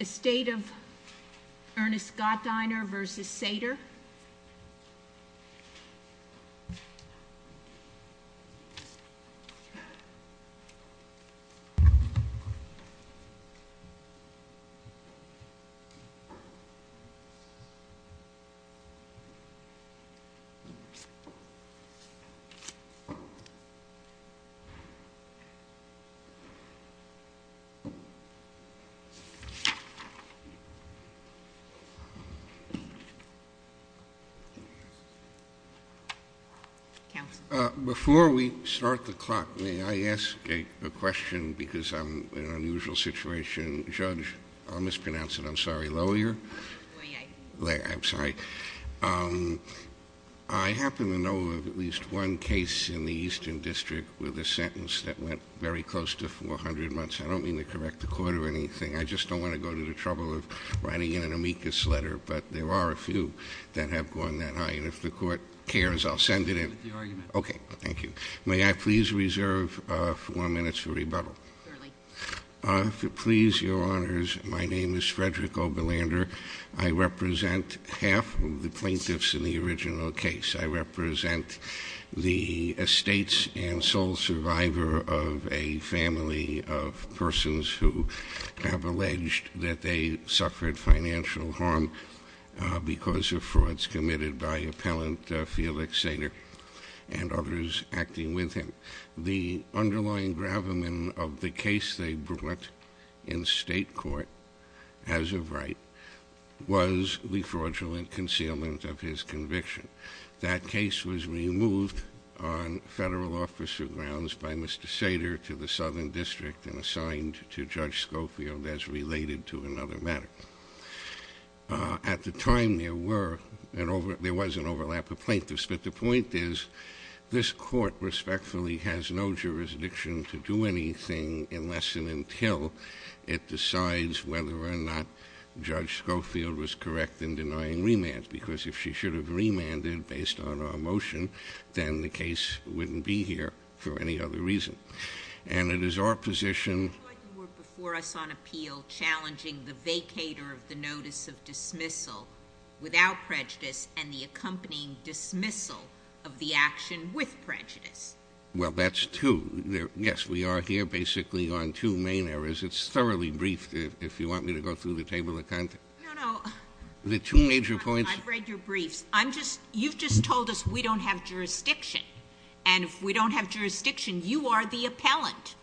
A state of Ernest Gottheiner versus Sater. Before we start the clock, may I ask a question, because I'm in an unusual situation. Judge, I'll mispronounce it, I'm sorry, Lawyer. I'm sorry. I happen to know of at least one case in the Eastern District with a sentence that went very close to 400 months. I don't mean to correct the court or anything, I just don't want to go to the trouble of writing in an amicus letter. But there are a few that have gone that high, and if the court cares, I'll send it in. Okay, thank you. May I please reserve four minutes for rebuttal? Certainly. If it please your honors, my name is Frederick Oberlander. I represent half of the plaintiffs in the original case. I represent the estates and sole survivor of a family of persons who have alleged that they suffered financial harm because of frauds committed by Appellant Felix Sater and others acting with him. The underlying gravamen of the case they brought in state court as of right was the fraudulent concealment of his conviction. That case was removed on federal officer grounds by Mr. Sater to the Southern District and assigned to Judge Schofield as related to another matter. At the time there was an overlap of plaintiffs, but the point is this court respectfully has no jurisdiction to do anything unless and until it decides whether or not Judge Schofield was correct in denying remand. Because if she should have remanded based on our motion, then the case wouldn't be here for any other reason. And it is our position... You were before us on appeal challenging the vacator of the notice of dismissal without prejudice and the accompanying dismissal of the action with prejudice. Well, that's two. Yes, we are here basically on two main areas. It's thoroughly briefed if you want me to go through the table of contents. No, no. The two major points... I've read your briefs. You've just told us we don't have jurisdiction. And if we don't have jurisdiction, you are the appellant.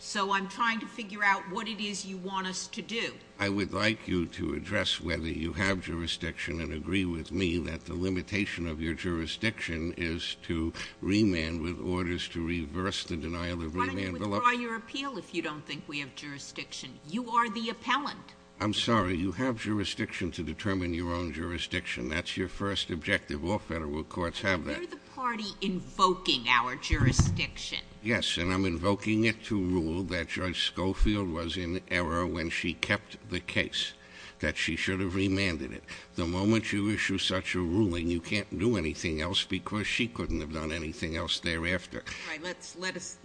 So I'm trying to figure out what it is you want us to do. I would like you to address whether you have jurisdiction and agree with me that the limitation of your jurisdiction is to remand with orders to reverse the denial of remand... Why don't you withdraw your appeal if you don't think we have jurisdiction? You are the appellant. I'm sorry. You have jurisdiction to determine your own jurisdiction. That's your first objective. All federal courts have that. You're the party invoking our jurisdiction. Yes, and I'm invoking it to rule that Judge Schofield was in error when she kept the case, that she should have remanded it. The moment you issue such a ruling, you can't do anything else because she couldn't have done anything else thereafter. All right. Let us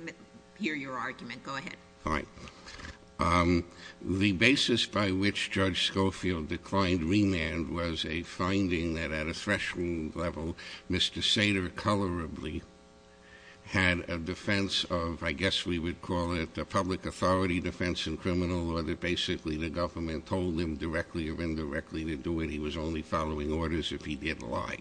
hear your argument. Go ahead. All right. The basis by which Judge Schofield declined remand was a finding that at a threshold level, Mr. Sater colorably had a defense of, I guess we would call it a public authority defense in criminal law that basically the government told him directly or indirectly to do it. He was only following orders if he did lie.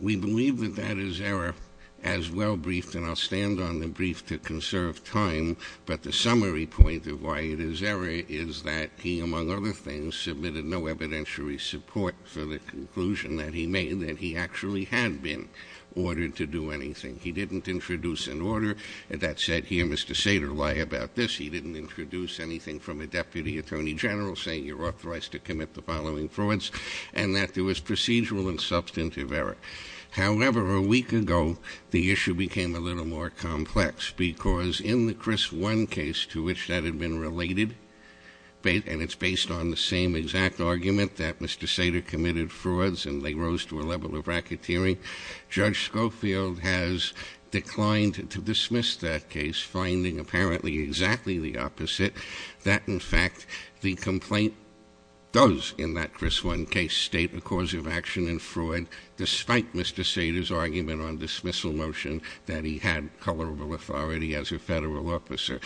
We believe that that is error as well briefed, and I'll stand on the brief to conserve time, but the summary point of why it is error is that he, among other things, submitted no evidentiary support for the conclusion that he made that he actually had been ordered to do anything. He didn't introduce an order that said, here, Mr. Sater, lie about this. He didn't introduce anything from a deputy attorney general saying you're authorized to commit the following frauds and that there was procedural and substantive error. However, a week ago, the issue became a little more complex because in the Chris One case to which that had been related, and it's based on the same exact argument that Mr. Sater committed frauds and they rose to a level of racketeering, Judge Schofield has declined to dismiss that case, finding apparently exactly the opposite, that, in fact, the complaint does, in that Chris One case, state a cause of action in fraud, despite Mr. Sater's argument on dismissal motion that he had colorable authority as a federal officer.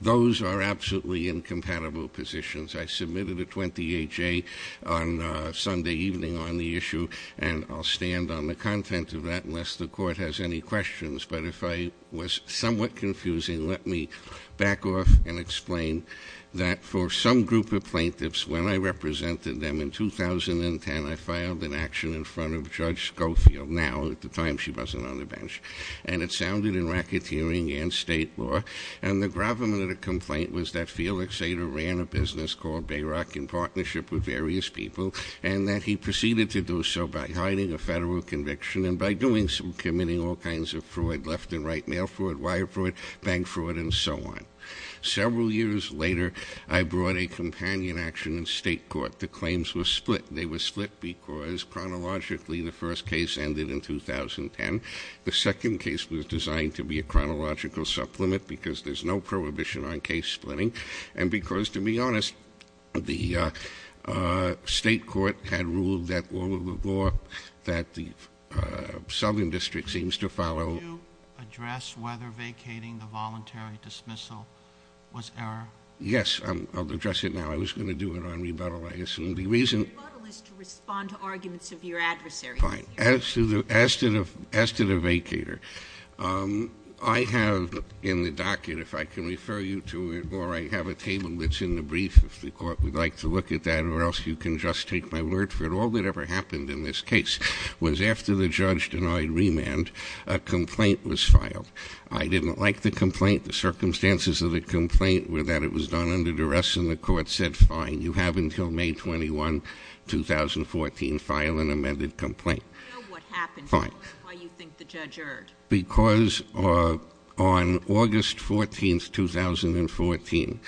Those are absolutely incompatible positions. I submitted a 28-J on Sunday evening on the issue, and I'll stand on the content of that unless the court has any questions, but if I was somewhat confusing, let me back off and explain that for some group of plaintiffs, when I represented them in 2010, I filed an action in front of Judge Schofield. Now, at the time, she wasn't on the bench, and it sounded in racketeering and state law, and the gravamen of the complaint was that Felix Sater ran a business called Bayrock in partnership with various people and that he proceeded to do so by hiding a federal conviction and by committing all kinds of fraud, left and right mail fraud, wire fraud, bank fraud, and so on. Several years later, I brought a companion action in state court. The claims were split. They were split because, chronologically, the first case ended in 2010. The second case was designed to be a chronological supplement because there's no prohibition on case splitting and because, to be honest, the state court had ruled that all of the law that the southern district seems to follow. Could you address whether vacating the voluntary dismissal was error? Yes, I'll address it now. I was going to do it on rebuttal, I assume. The rebuttal is to respond to arguments of your adversary. Fine. As to the vacater, I have in the docket, if I can refer you to it, or I have a table that's in the brief, if the court would like to look at that, or else you can just take my word for it, all that ever happened in this case was after the judge denied remand, a complaint was filed. I didn't like the complaint. The circumstances of the complaint were that it was done under duress, and the court said, fine, you have until May 21, 2014, file an amended complaint. What happened? Fine. Why do you think the judge erred? Because on August 14, 2014,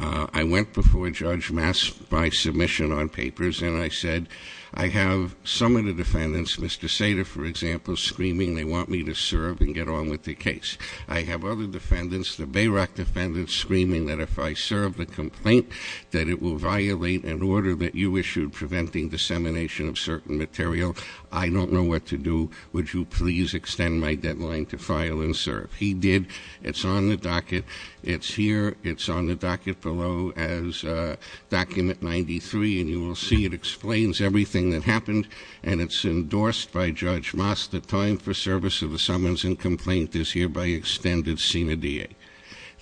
I went before Judge Mass by submission on papers, and I said, I have some of the defendants, Mr. Sater, for example, screaming they want me to serve and get on with the case. I have other defendants, the Bayrock defendants, screaming that if I serve the complaint, that it will violate an order that you issued preventing dissemination of certain material. I don't know what to do. Would you please extend my deadline to file and serve? He did. It's on the docket. It's here. It's on the docket below as document 93, and you will see it explains everything that happened, and it's endorsed by Judge Mass. The time for service of the summons and complaint is hereby extended senior DA.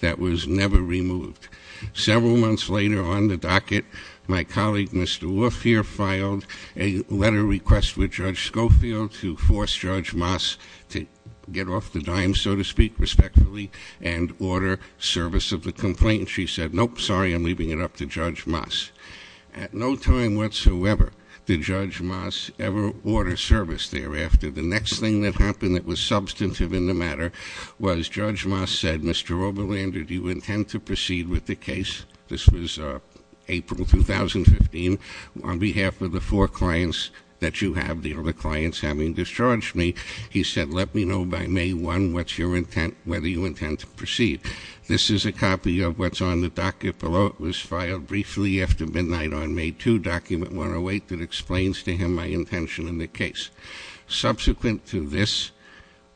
That was never removed. Several months later, on the docket, my colleague, Mr. Wolf, here, filed a letter request with Judge Schofield to force Judge Mass to get off the dime, so to speak, respectfully, and order service of the complaint. She said, nope, sorry, I'm leaving it up to Judge Mass. At no time whatsoever did Judge Mass ever order service thereafter. The next thing that happened that was substantive in the matter was Judge Mass said, Mr. Oberlander, do you intend to proceed with the case? This was April 2015. On behalf of the four clients that you have, the other clients having discharged me, he said, let me know by May 1 whether you intend to proceed. This is a copy of what's on the docket below. It was filed briefly after midnight on May 2, document 108, that explains to him my intention in the case. Subsequent to this,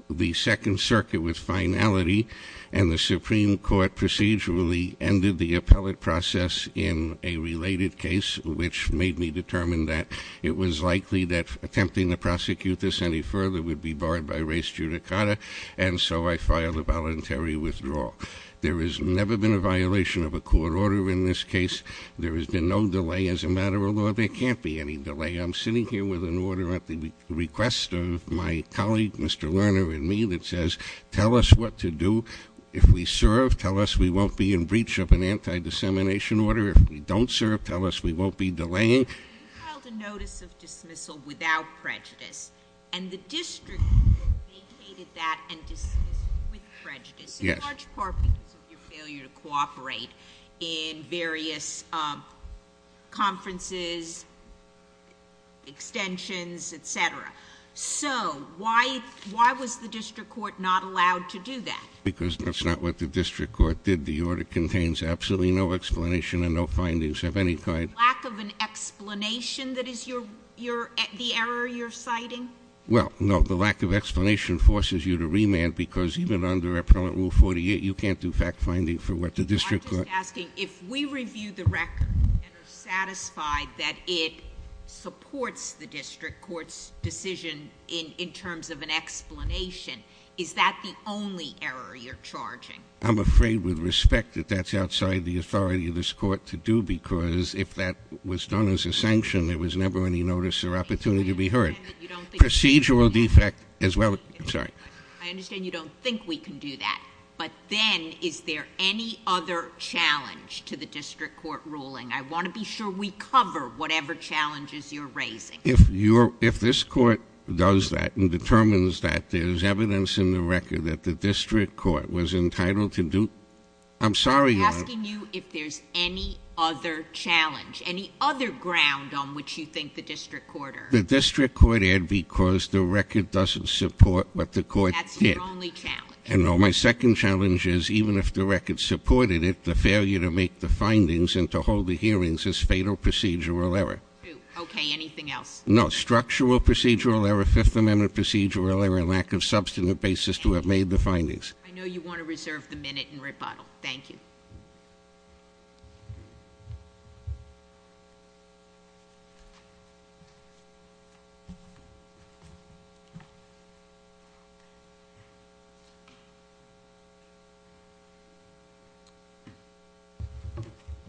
the Second Circuit, with finality, and the Supreme Court procedurally ended the appellate process in a related case, which made me determine that it was likely that attempting to prosecute this any further would be barred by race judicata. And so I filed a voluntary withdrawal. There has never been a violation of a court order in this case. There has been no delay as a matter of law. There can't be any delay. I'm sitting here with an order at the request of my colleague, Mr. Lerner, and me that says, tell us what to do. If we serve, tell us we won't be in breach of an anti-dissemination order. If we don't serve, tell us we won't be delaying. You filed a notice of dismissal without prejudice. And the district vacated that and dismissed it with prejudice. Yes. In large part because of your failure to cooperate in various conferences, extensions, et cetera. So why was the district court not allowed to do that? Because that's not what the district court did. The order contains absolutely no explanation and no findings of any kind. Lack of an explanation that is the error you're citing? Well, no, the lack of explanation forces you to remand because even under Appellant Rule 48, you can't do fact-finding for what the district court. I'm just asking, if we review the record and are satisfied that it supports the district court's decision in terms of an explanation, is that the only error you're charging? I'm afraid with respect that that's outside the authority of this court to do because if that was done as a sanction, there was never any notice or opportunity to be heard. Procedural defect as well. I understand you don't think we can do that. But then, is there any other challenge to the district court ruling? I want to be sure we cover whatever challenges you're raising. If this court does that and determines that there's evidence in the record that the district court was entitled to do, I'm sorry. I'm asking you if there's any other challenge, any other ground on which you think the district court erred. The district court erred because the record doesn't support what the court did. That's your only challenge. And my second challenge is, even if the record supported it, the failure to make the findings and to hold the hearings is fatal procedural error. Okay, anything else? No, structural procedural error, Fifth Amendment procedural error, lack of substantive basis to have made the findings. I know you want to reserve the minute and rebuttal. Thank you.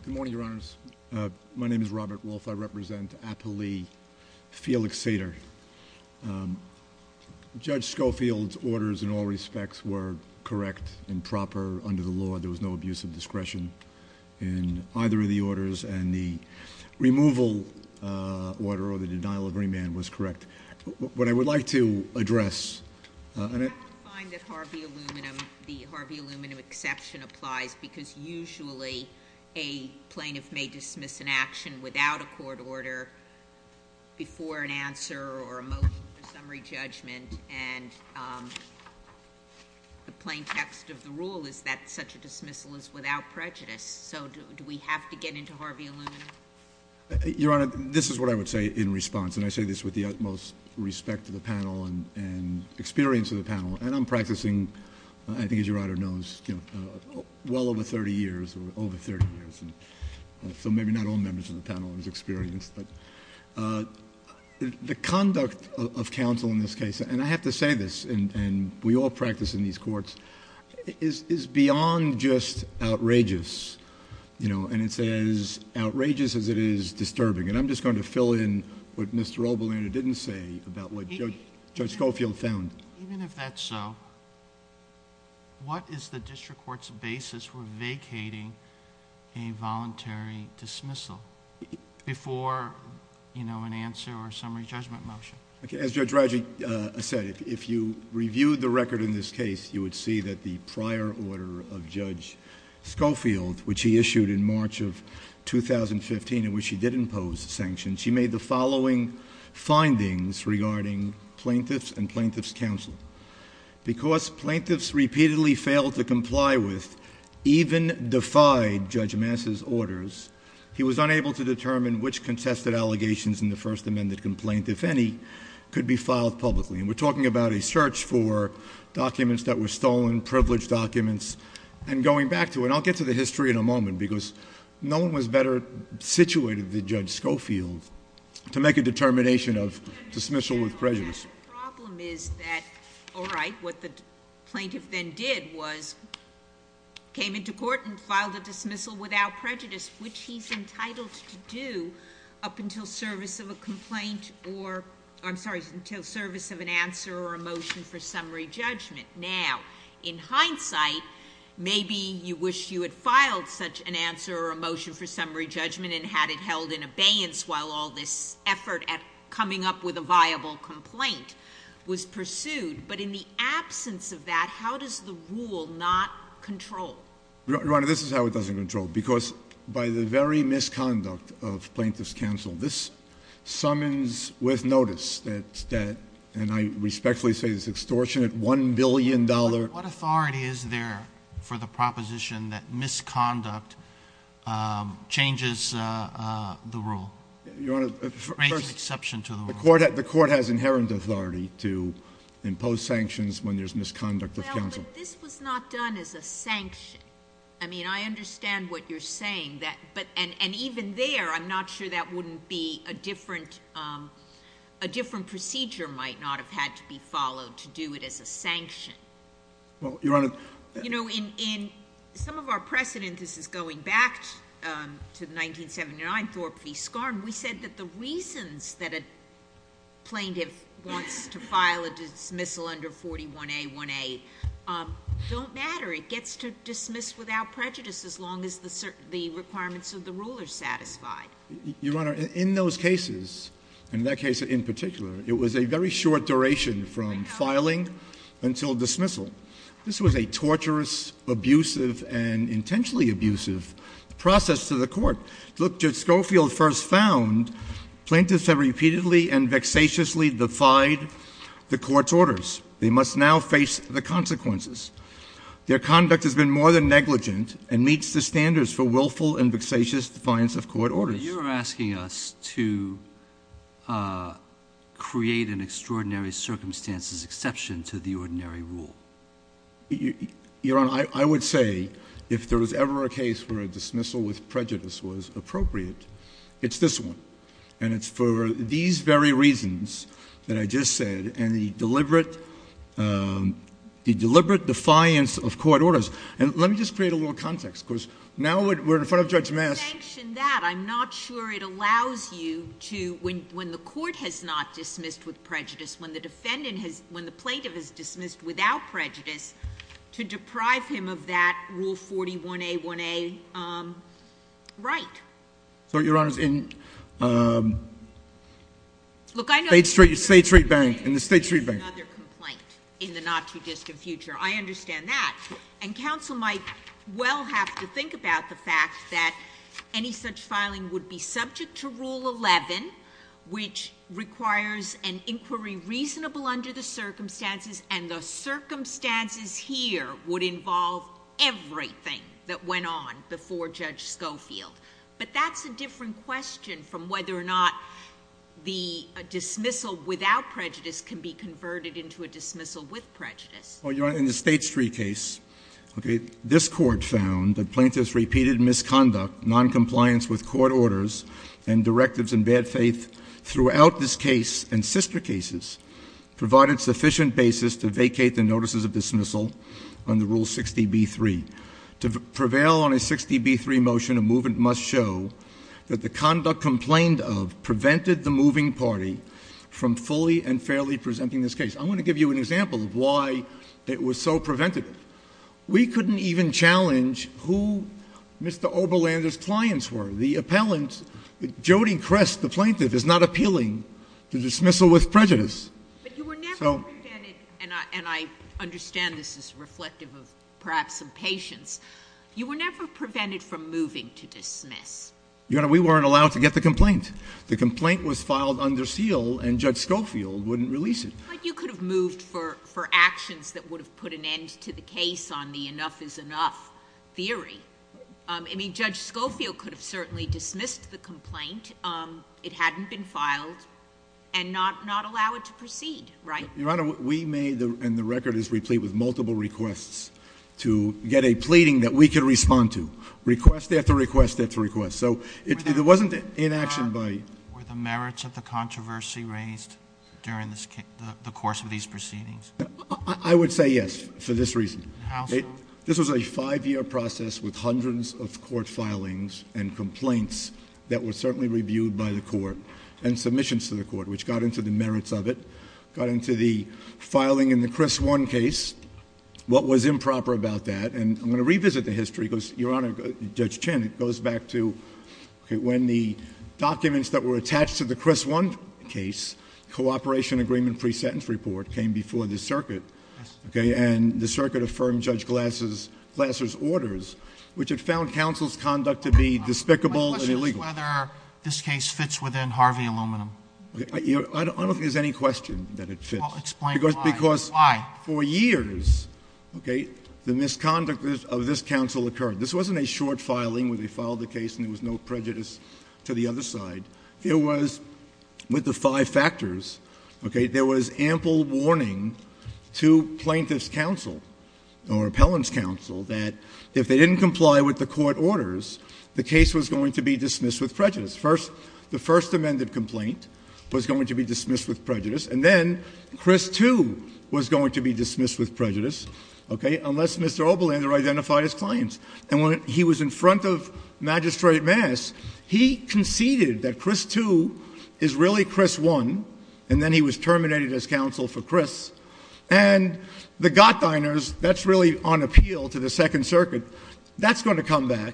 Good morning, Your Honors. My name is Robert Wolfe. I represent Applee Felix Cedar. Judge Schofield's orders in all respects were correct and proper under the law. There was no abuse of discretion in either of the orders. And the removal order or the denial of remand was correct. What I would like to address- I find that Harvey Aluminum, the Harvey Aluminum exception applies because usually a plaintiff may dismiss an action without a court order before an answer or a motion for summary judgment. And the plain text of the rule is that such a dismissal is without prejudice. So do we have to get into Harvey Aluminum? Your Honor, this is what I would say in response. And I say this with the utmost respect to the panel and experience of the panel. And I'm practicing, I think as your Honor knows, well over thirty years, over thirty years. So maybe not all members of the panel is experienced. But the conduct of counsel in this case, and I have to say this, and we all practice in these courts, is beyond just outrageous. And it's as outrageous as it is disturbing. And I'm just going to fill in what Mr. Oberlin didn't say about what Judge Schofield found. Even if that's so, what is the district court's basis for vacating a voluntary dismissal before an answer or a summary judgment motion? As Judge Radji said, if you reviewed the record in this case, you would see that the prior order of Judge Schofield, which he issued in March of 2015, in which he did impose sanctions, he made the following findings regarding plaintiffs and plaintiffs' counsel. Because plaintiffs repeatedly failed to comply with, even defied Judge Massa's orders, he was unable to determine which contested allegations in the first amended complaint, if any, could be filed publicly. And we're talking about a search for documents that were stolen, privileged documents. And going back to it, and I'll get to the history in a moment, because no one was better situated than Judge Schofield to make a determination of dismissal with prejudice. The problem is that, all right, what the plaintiff then did was came into court and filed a dismissal without prejudice, which he's entitled to do up until service of a complaint or, I'm sorry, until service of an answer or a motion for summary judgment. Now, in hindsight, maybe you wish you had filed such an answer or a motion for summary judgment and had it held in abeyance while all this effort at coming up with a viable complaint was pursued. But in the absence of that, how does the rule not control? Your Honor, this is how it doesn't control, because by the very misconduct of plaintiffs' counsel, this summons with notice that, and I respectfully say this is an extortionate $1 billion. What authority is there for the proposition that misconduct changes the rule? First, the court has inherent authority to impose sanctions when there's misconduct of counsel. Well, but this was not done as a sanction. I mean, I understand what you're saying. And even there, I'm not sure that wouldn't be a different procedure might not have had to be followed to do it as a sanction. Well, Your Honor. You know, in some of our precedent, this is going back to the 1979 Thorpe v. Skarn, we said that the reasons that a plaintiff wants to file a dismissal under 41A18 don't matter. It gets to dismiss without prejudice as long as the requirements of the rule are satisfied. Your Honor, in those cases, and that case in particular, it was a very short duration from filing until dismissal. This was a torturous, abusive, and intentionally abusive process to the court. Look, Judge Schofield first found plaintiffs have repeatedly and vexatiously defied the court's orders. They must now face the consequences. Their conduct has been more than negligent and meets the standards for willful and vexatious defiance of court orders. But you're asking us to create an extraordinary circumstances exception to the ordinary rule. Your Honor, I would say if there was ever a case where a dismissal with prejudice was appropriate, it's this one. And it's for these very reasons that I just said, and the deliberate defiance of court orders. And let me just create a little context, because now we're in front of Judge Mast. You mentioned that. I'm not sure it allows you to, when the court has not dismissed with prejudice, when the defendant has, when the plaintiff has dismissed without prejudice, to deprive him of that Rule 41A1A right. Your Honor, in State Street Bank, in the State Street Bank. There is another complaint in the not-too-distant future. I understand that. And counsel might well have to think about the fact that any such filing would be subject to Rule 11, which requires an inquiry reasonable under the circumstances, and the circumstances here would involve everything that went on before Judge Schofield. But that's a different question from whether or not the dismissal without prejudice can be converted into a dismissal with prejudice. Well, Your Honor, in the State Street case, this Court found that plaintiff's repeated misconduct, noncompliance with court orders, and directives in bad faith throughout this case and sister cases provided sufficient basis to vacate the notices of dismissal under Rule 60B3. To prevail on a 60B3 motion, a movement must show that the conduct complained of prevented the moving party from fully and fairly presenting this case. I want to give you an example of why it was so preventative. We couldn't even challenge who Mr. Oberlander's clients were. The appellant, Jody Crest, the plaintiff, is not appealing to dismissal with prejudice. But you were never prevented, and I understand this is reflective of perhaps some patience, you were never prevented from moving to dismiss. Your Honor, we weren't allowed to get the complaint. The complaint was filed under seal, and Judge Schofield wouldn't release it. But you could have moved for actions that would have put an end to the case on the enough is enough theory. I mean, Judge Schofield could have certainly dismissed the complaint. It hadn't been filed. And not allow it to proceed, right? Your Honor, we made, and the record is replete with multiple requests to get a pleading that we could respond to. Request after request after request. So it wasn't inaction by... Were the merits of the controversy raised during the course of these proceedings? I would say yes, for this reason. How so? This was a five-year process with hundreds of court filings and complaints that were certainly reviewed by the court. And submissions to the court, which got into the merits of it. Got into the filing in the Chris One case. What was improper about that? And I'm going to revisit the history because, Your Honor, Judge Chinn, it goes back to when the documents that were attached to the Chris One case, cooperation agreement pre-sentence report, came before the circuit. And the circuit affirmed Judge Glasser's orders, which had found counsel's conduct to be despicable and illegal. My question is whether this case fits within Harvey Aluminum. I don't think there's any question that it fits. Explain why. Because for years, the misconduct of this counsel occurred. This wasn't a short filing where they filed the case and there was no prejudice to the other side. There was, with the five factors, okay, there was ample warning to plaintiff's counsel or appellant's counsel that if they didn't comply with the court orders, the case was going to be dismissed with prejudice. First, the first amended complaint was going to be dismissed with prejudice. And then Chris Two was going to be dismissed with prejudice, okay, unless Mr. Oberlander identified his clients. And when he was in front of Magistrate Maas, he conceded that Chris Two is really Chris One. And then he was terminated as counsel for Chris. And the Gottheiners, that's really on appeal to the Second Circuit, that's going to come back.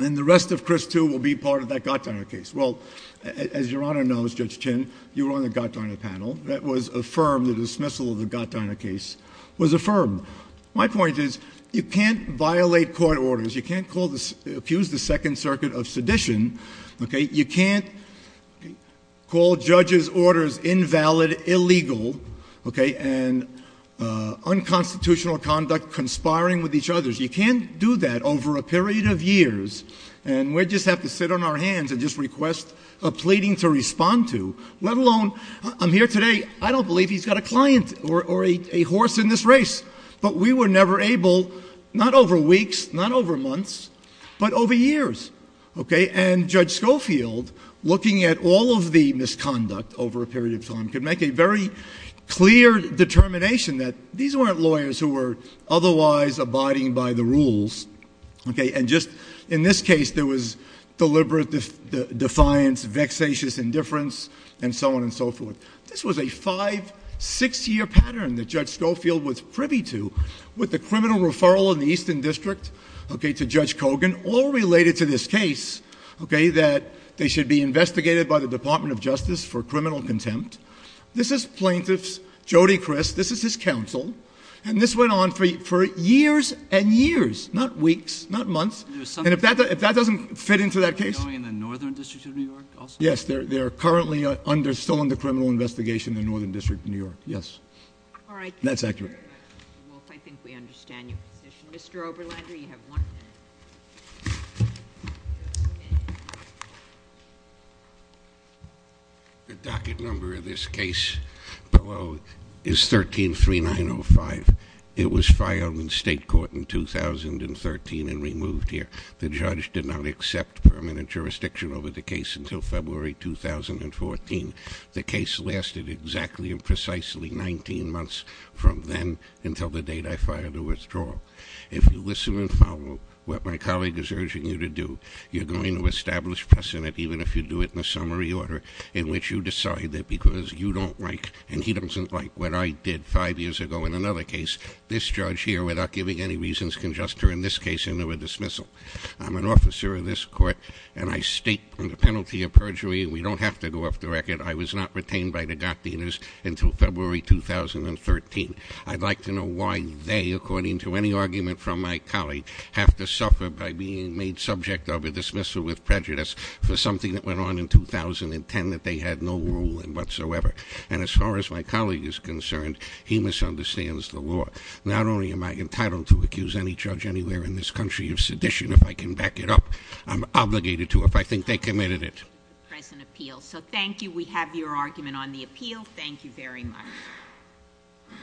And the rest of Chris Two will be part of that Gottheiner case. Well, as Your Honor knows, Judge Chin, you were on the Gottheiner panel. That was affirmed, the dismissal of the Gottheiner case was affirmed. My point is you can't violate court orders. You can't accuse the Second Circuit of sedition, okay. You can't call judges' orders invalid, illegal, okay, and unconstitutional conduct, conspiring with each other. You can't do that over a period of years. And we just have to sit on our hands and just request a pleading to respond to, let alone I'm here today. I don't believe he's got a client or a horse in this race. But we were never able, not over weeks, not over months, but over years, okay. And Judge Schofield, looking at all of the misconduct over a period of time, could make a very clear determination that these weren't lawyers who were otherwise abiding by the rules, okay. And just in this case, there was deliberate defiance, vexatious indifference, and so on and so forth. This was a five-, six-year pattern that Judge Schofield was privy to, with the criminal referral in the Eastern District, okay, to Judge Kogan, all related to this case, okay, that they should be investigated by the Department of Justice for criminal contempt. This is plaintiffs, Jody Criss, this is his counsel, and this went on for years and years, not weeks, not months. And if that doesn't fit into that case- Are they going in the Northern District of New York also? Yes, they're currently still under criminal investigation in the Northern District of New York, yes. All right. That's accurate. Well, I think we understand your position. Mr. Oberlander, you have one minute. The docket number of this case below is 13-3905. It was filed in state court in 2013 and removed here. The judge did not accept permanent jurisdiction over the case until February 2014. The case lasted exactly and precisely 19 months from then until the date I filed the withdrawal. If you listen and follow what my colleague is urging you to do, you're going to establish precedent, even if you do it in a summary order in which you decide that because you don't like and he doesn't like what I did five years ago in another case, this judge here, without giving any reasons, can just turn this case into a dismissal. I'm an officer of this court, and I state under penalty of perjury, and we don't have to go off the record, I was not retained by the Gottdieners until February 2013. I'd like to know why they, according to any argument from my colleague, have to suffer by being made subject of a dismissal with prejudice for something that went on in 2010 that they had no role in whatsoever. And as far as my colleague is concerned, he misunderstands the law. Not only am I entitled to accuse any judge anywhere in this country of sedition, if I can back it up, I'm obligated to if I think they committed it. Thank you. We have your argument on the appeal. Thank you very much.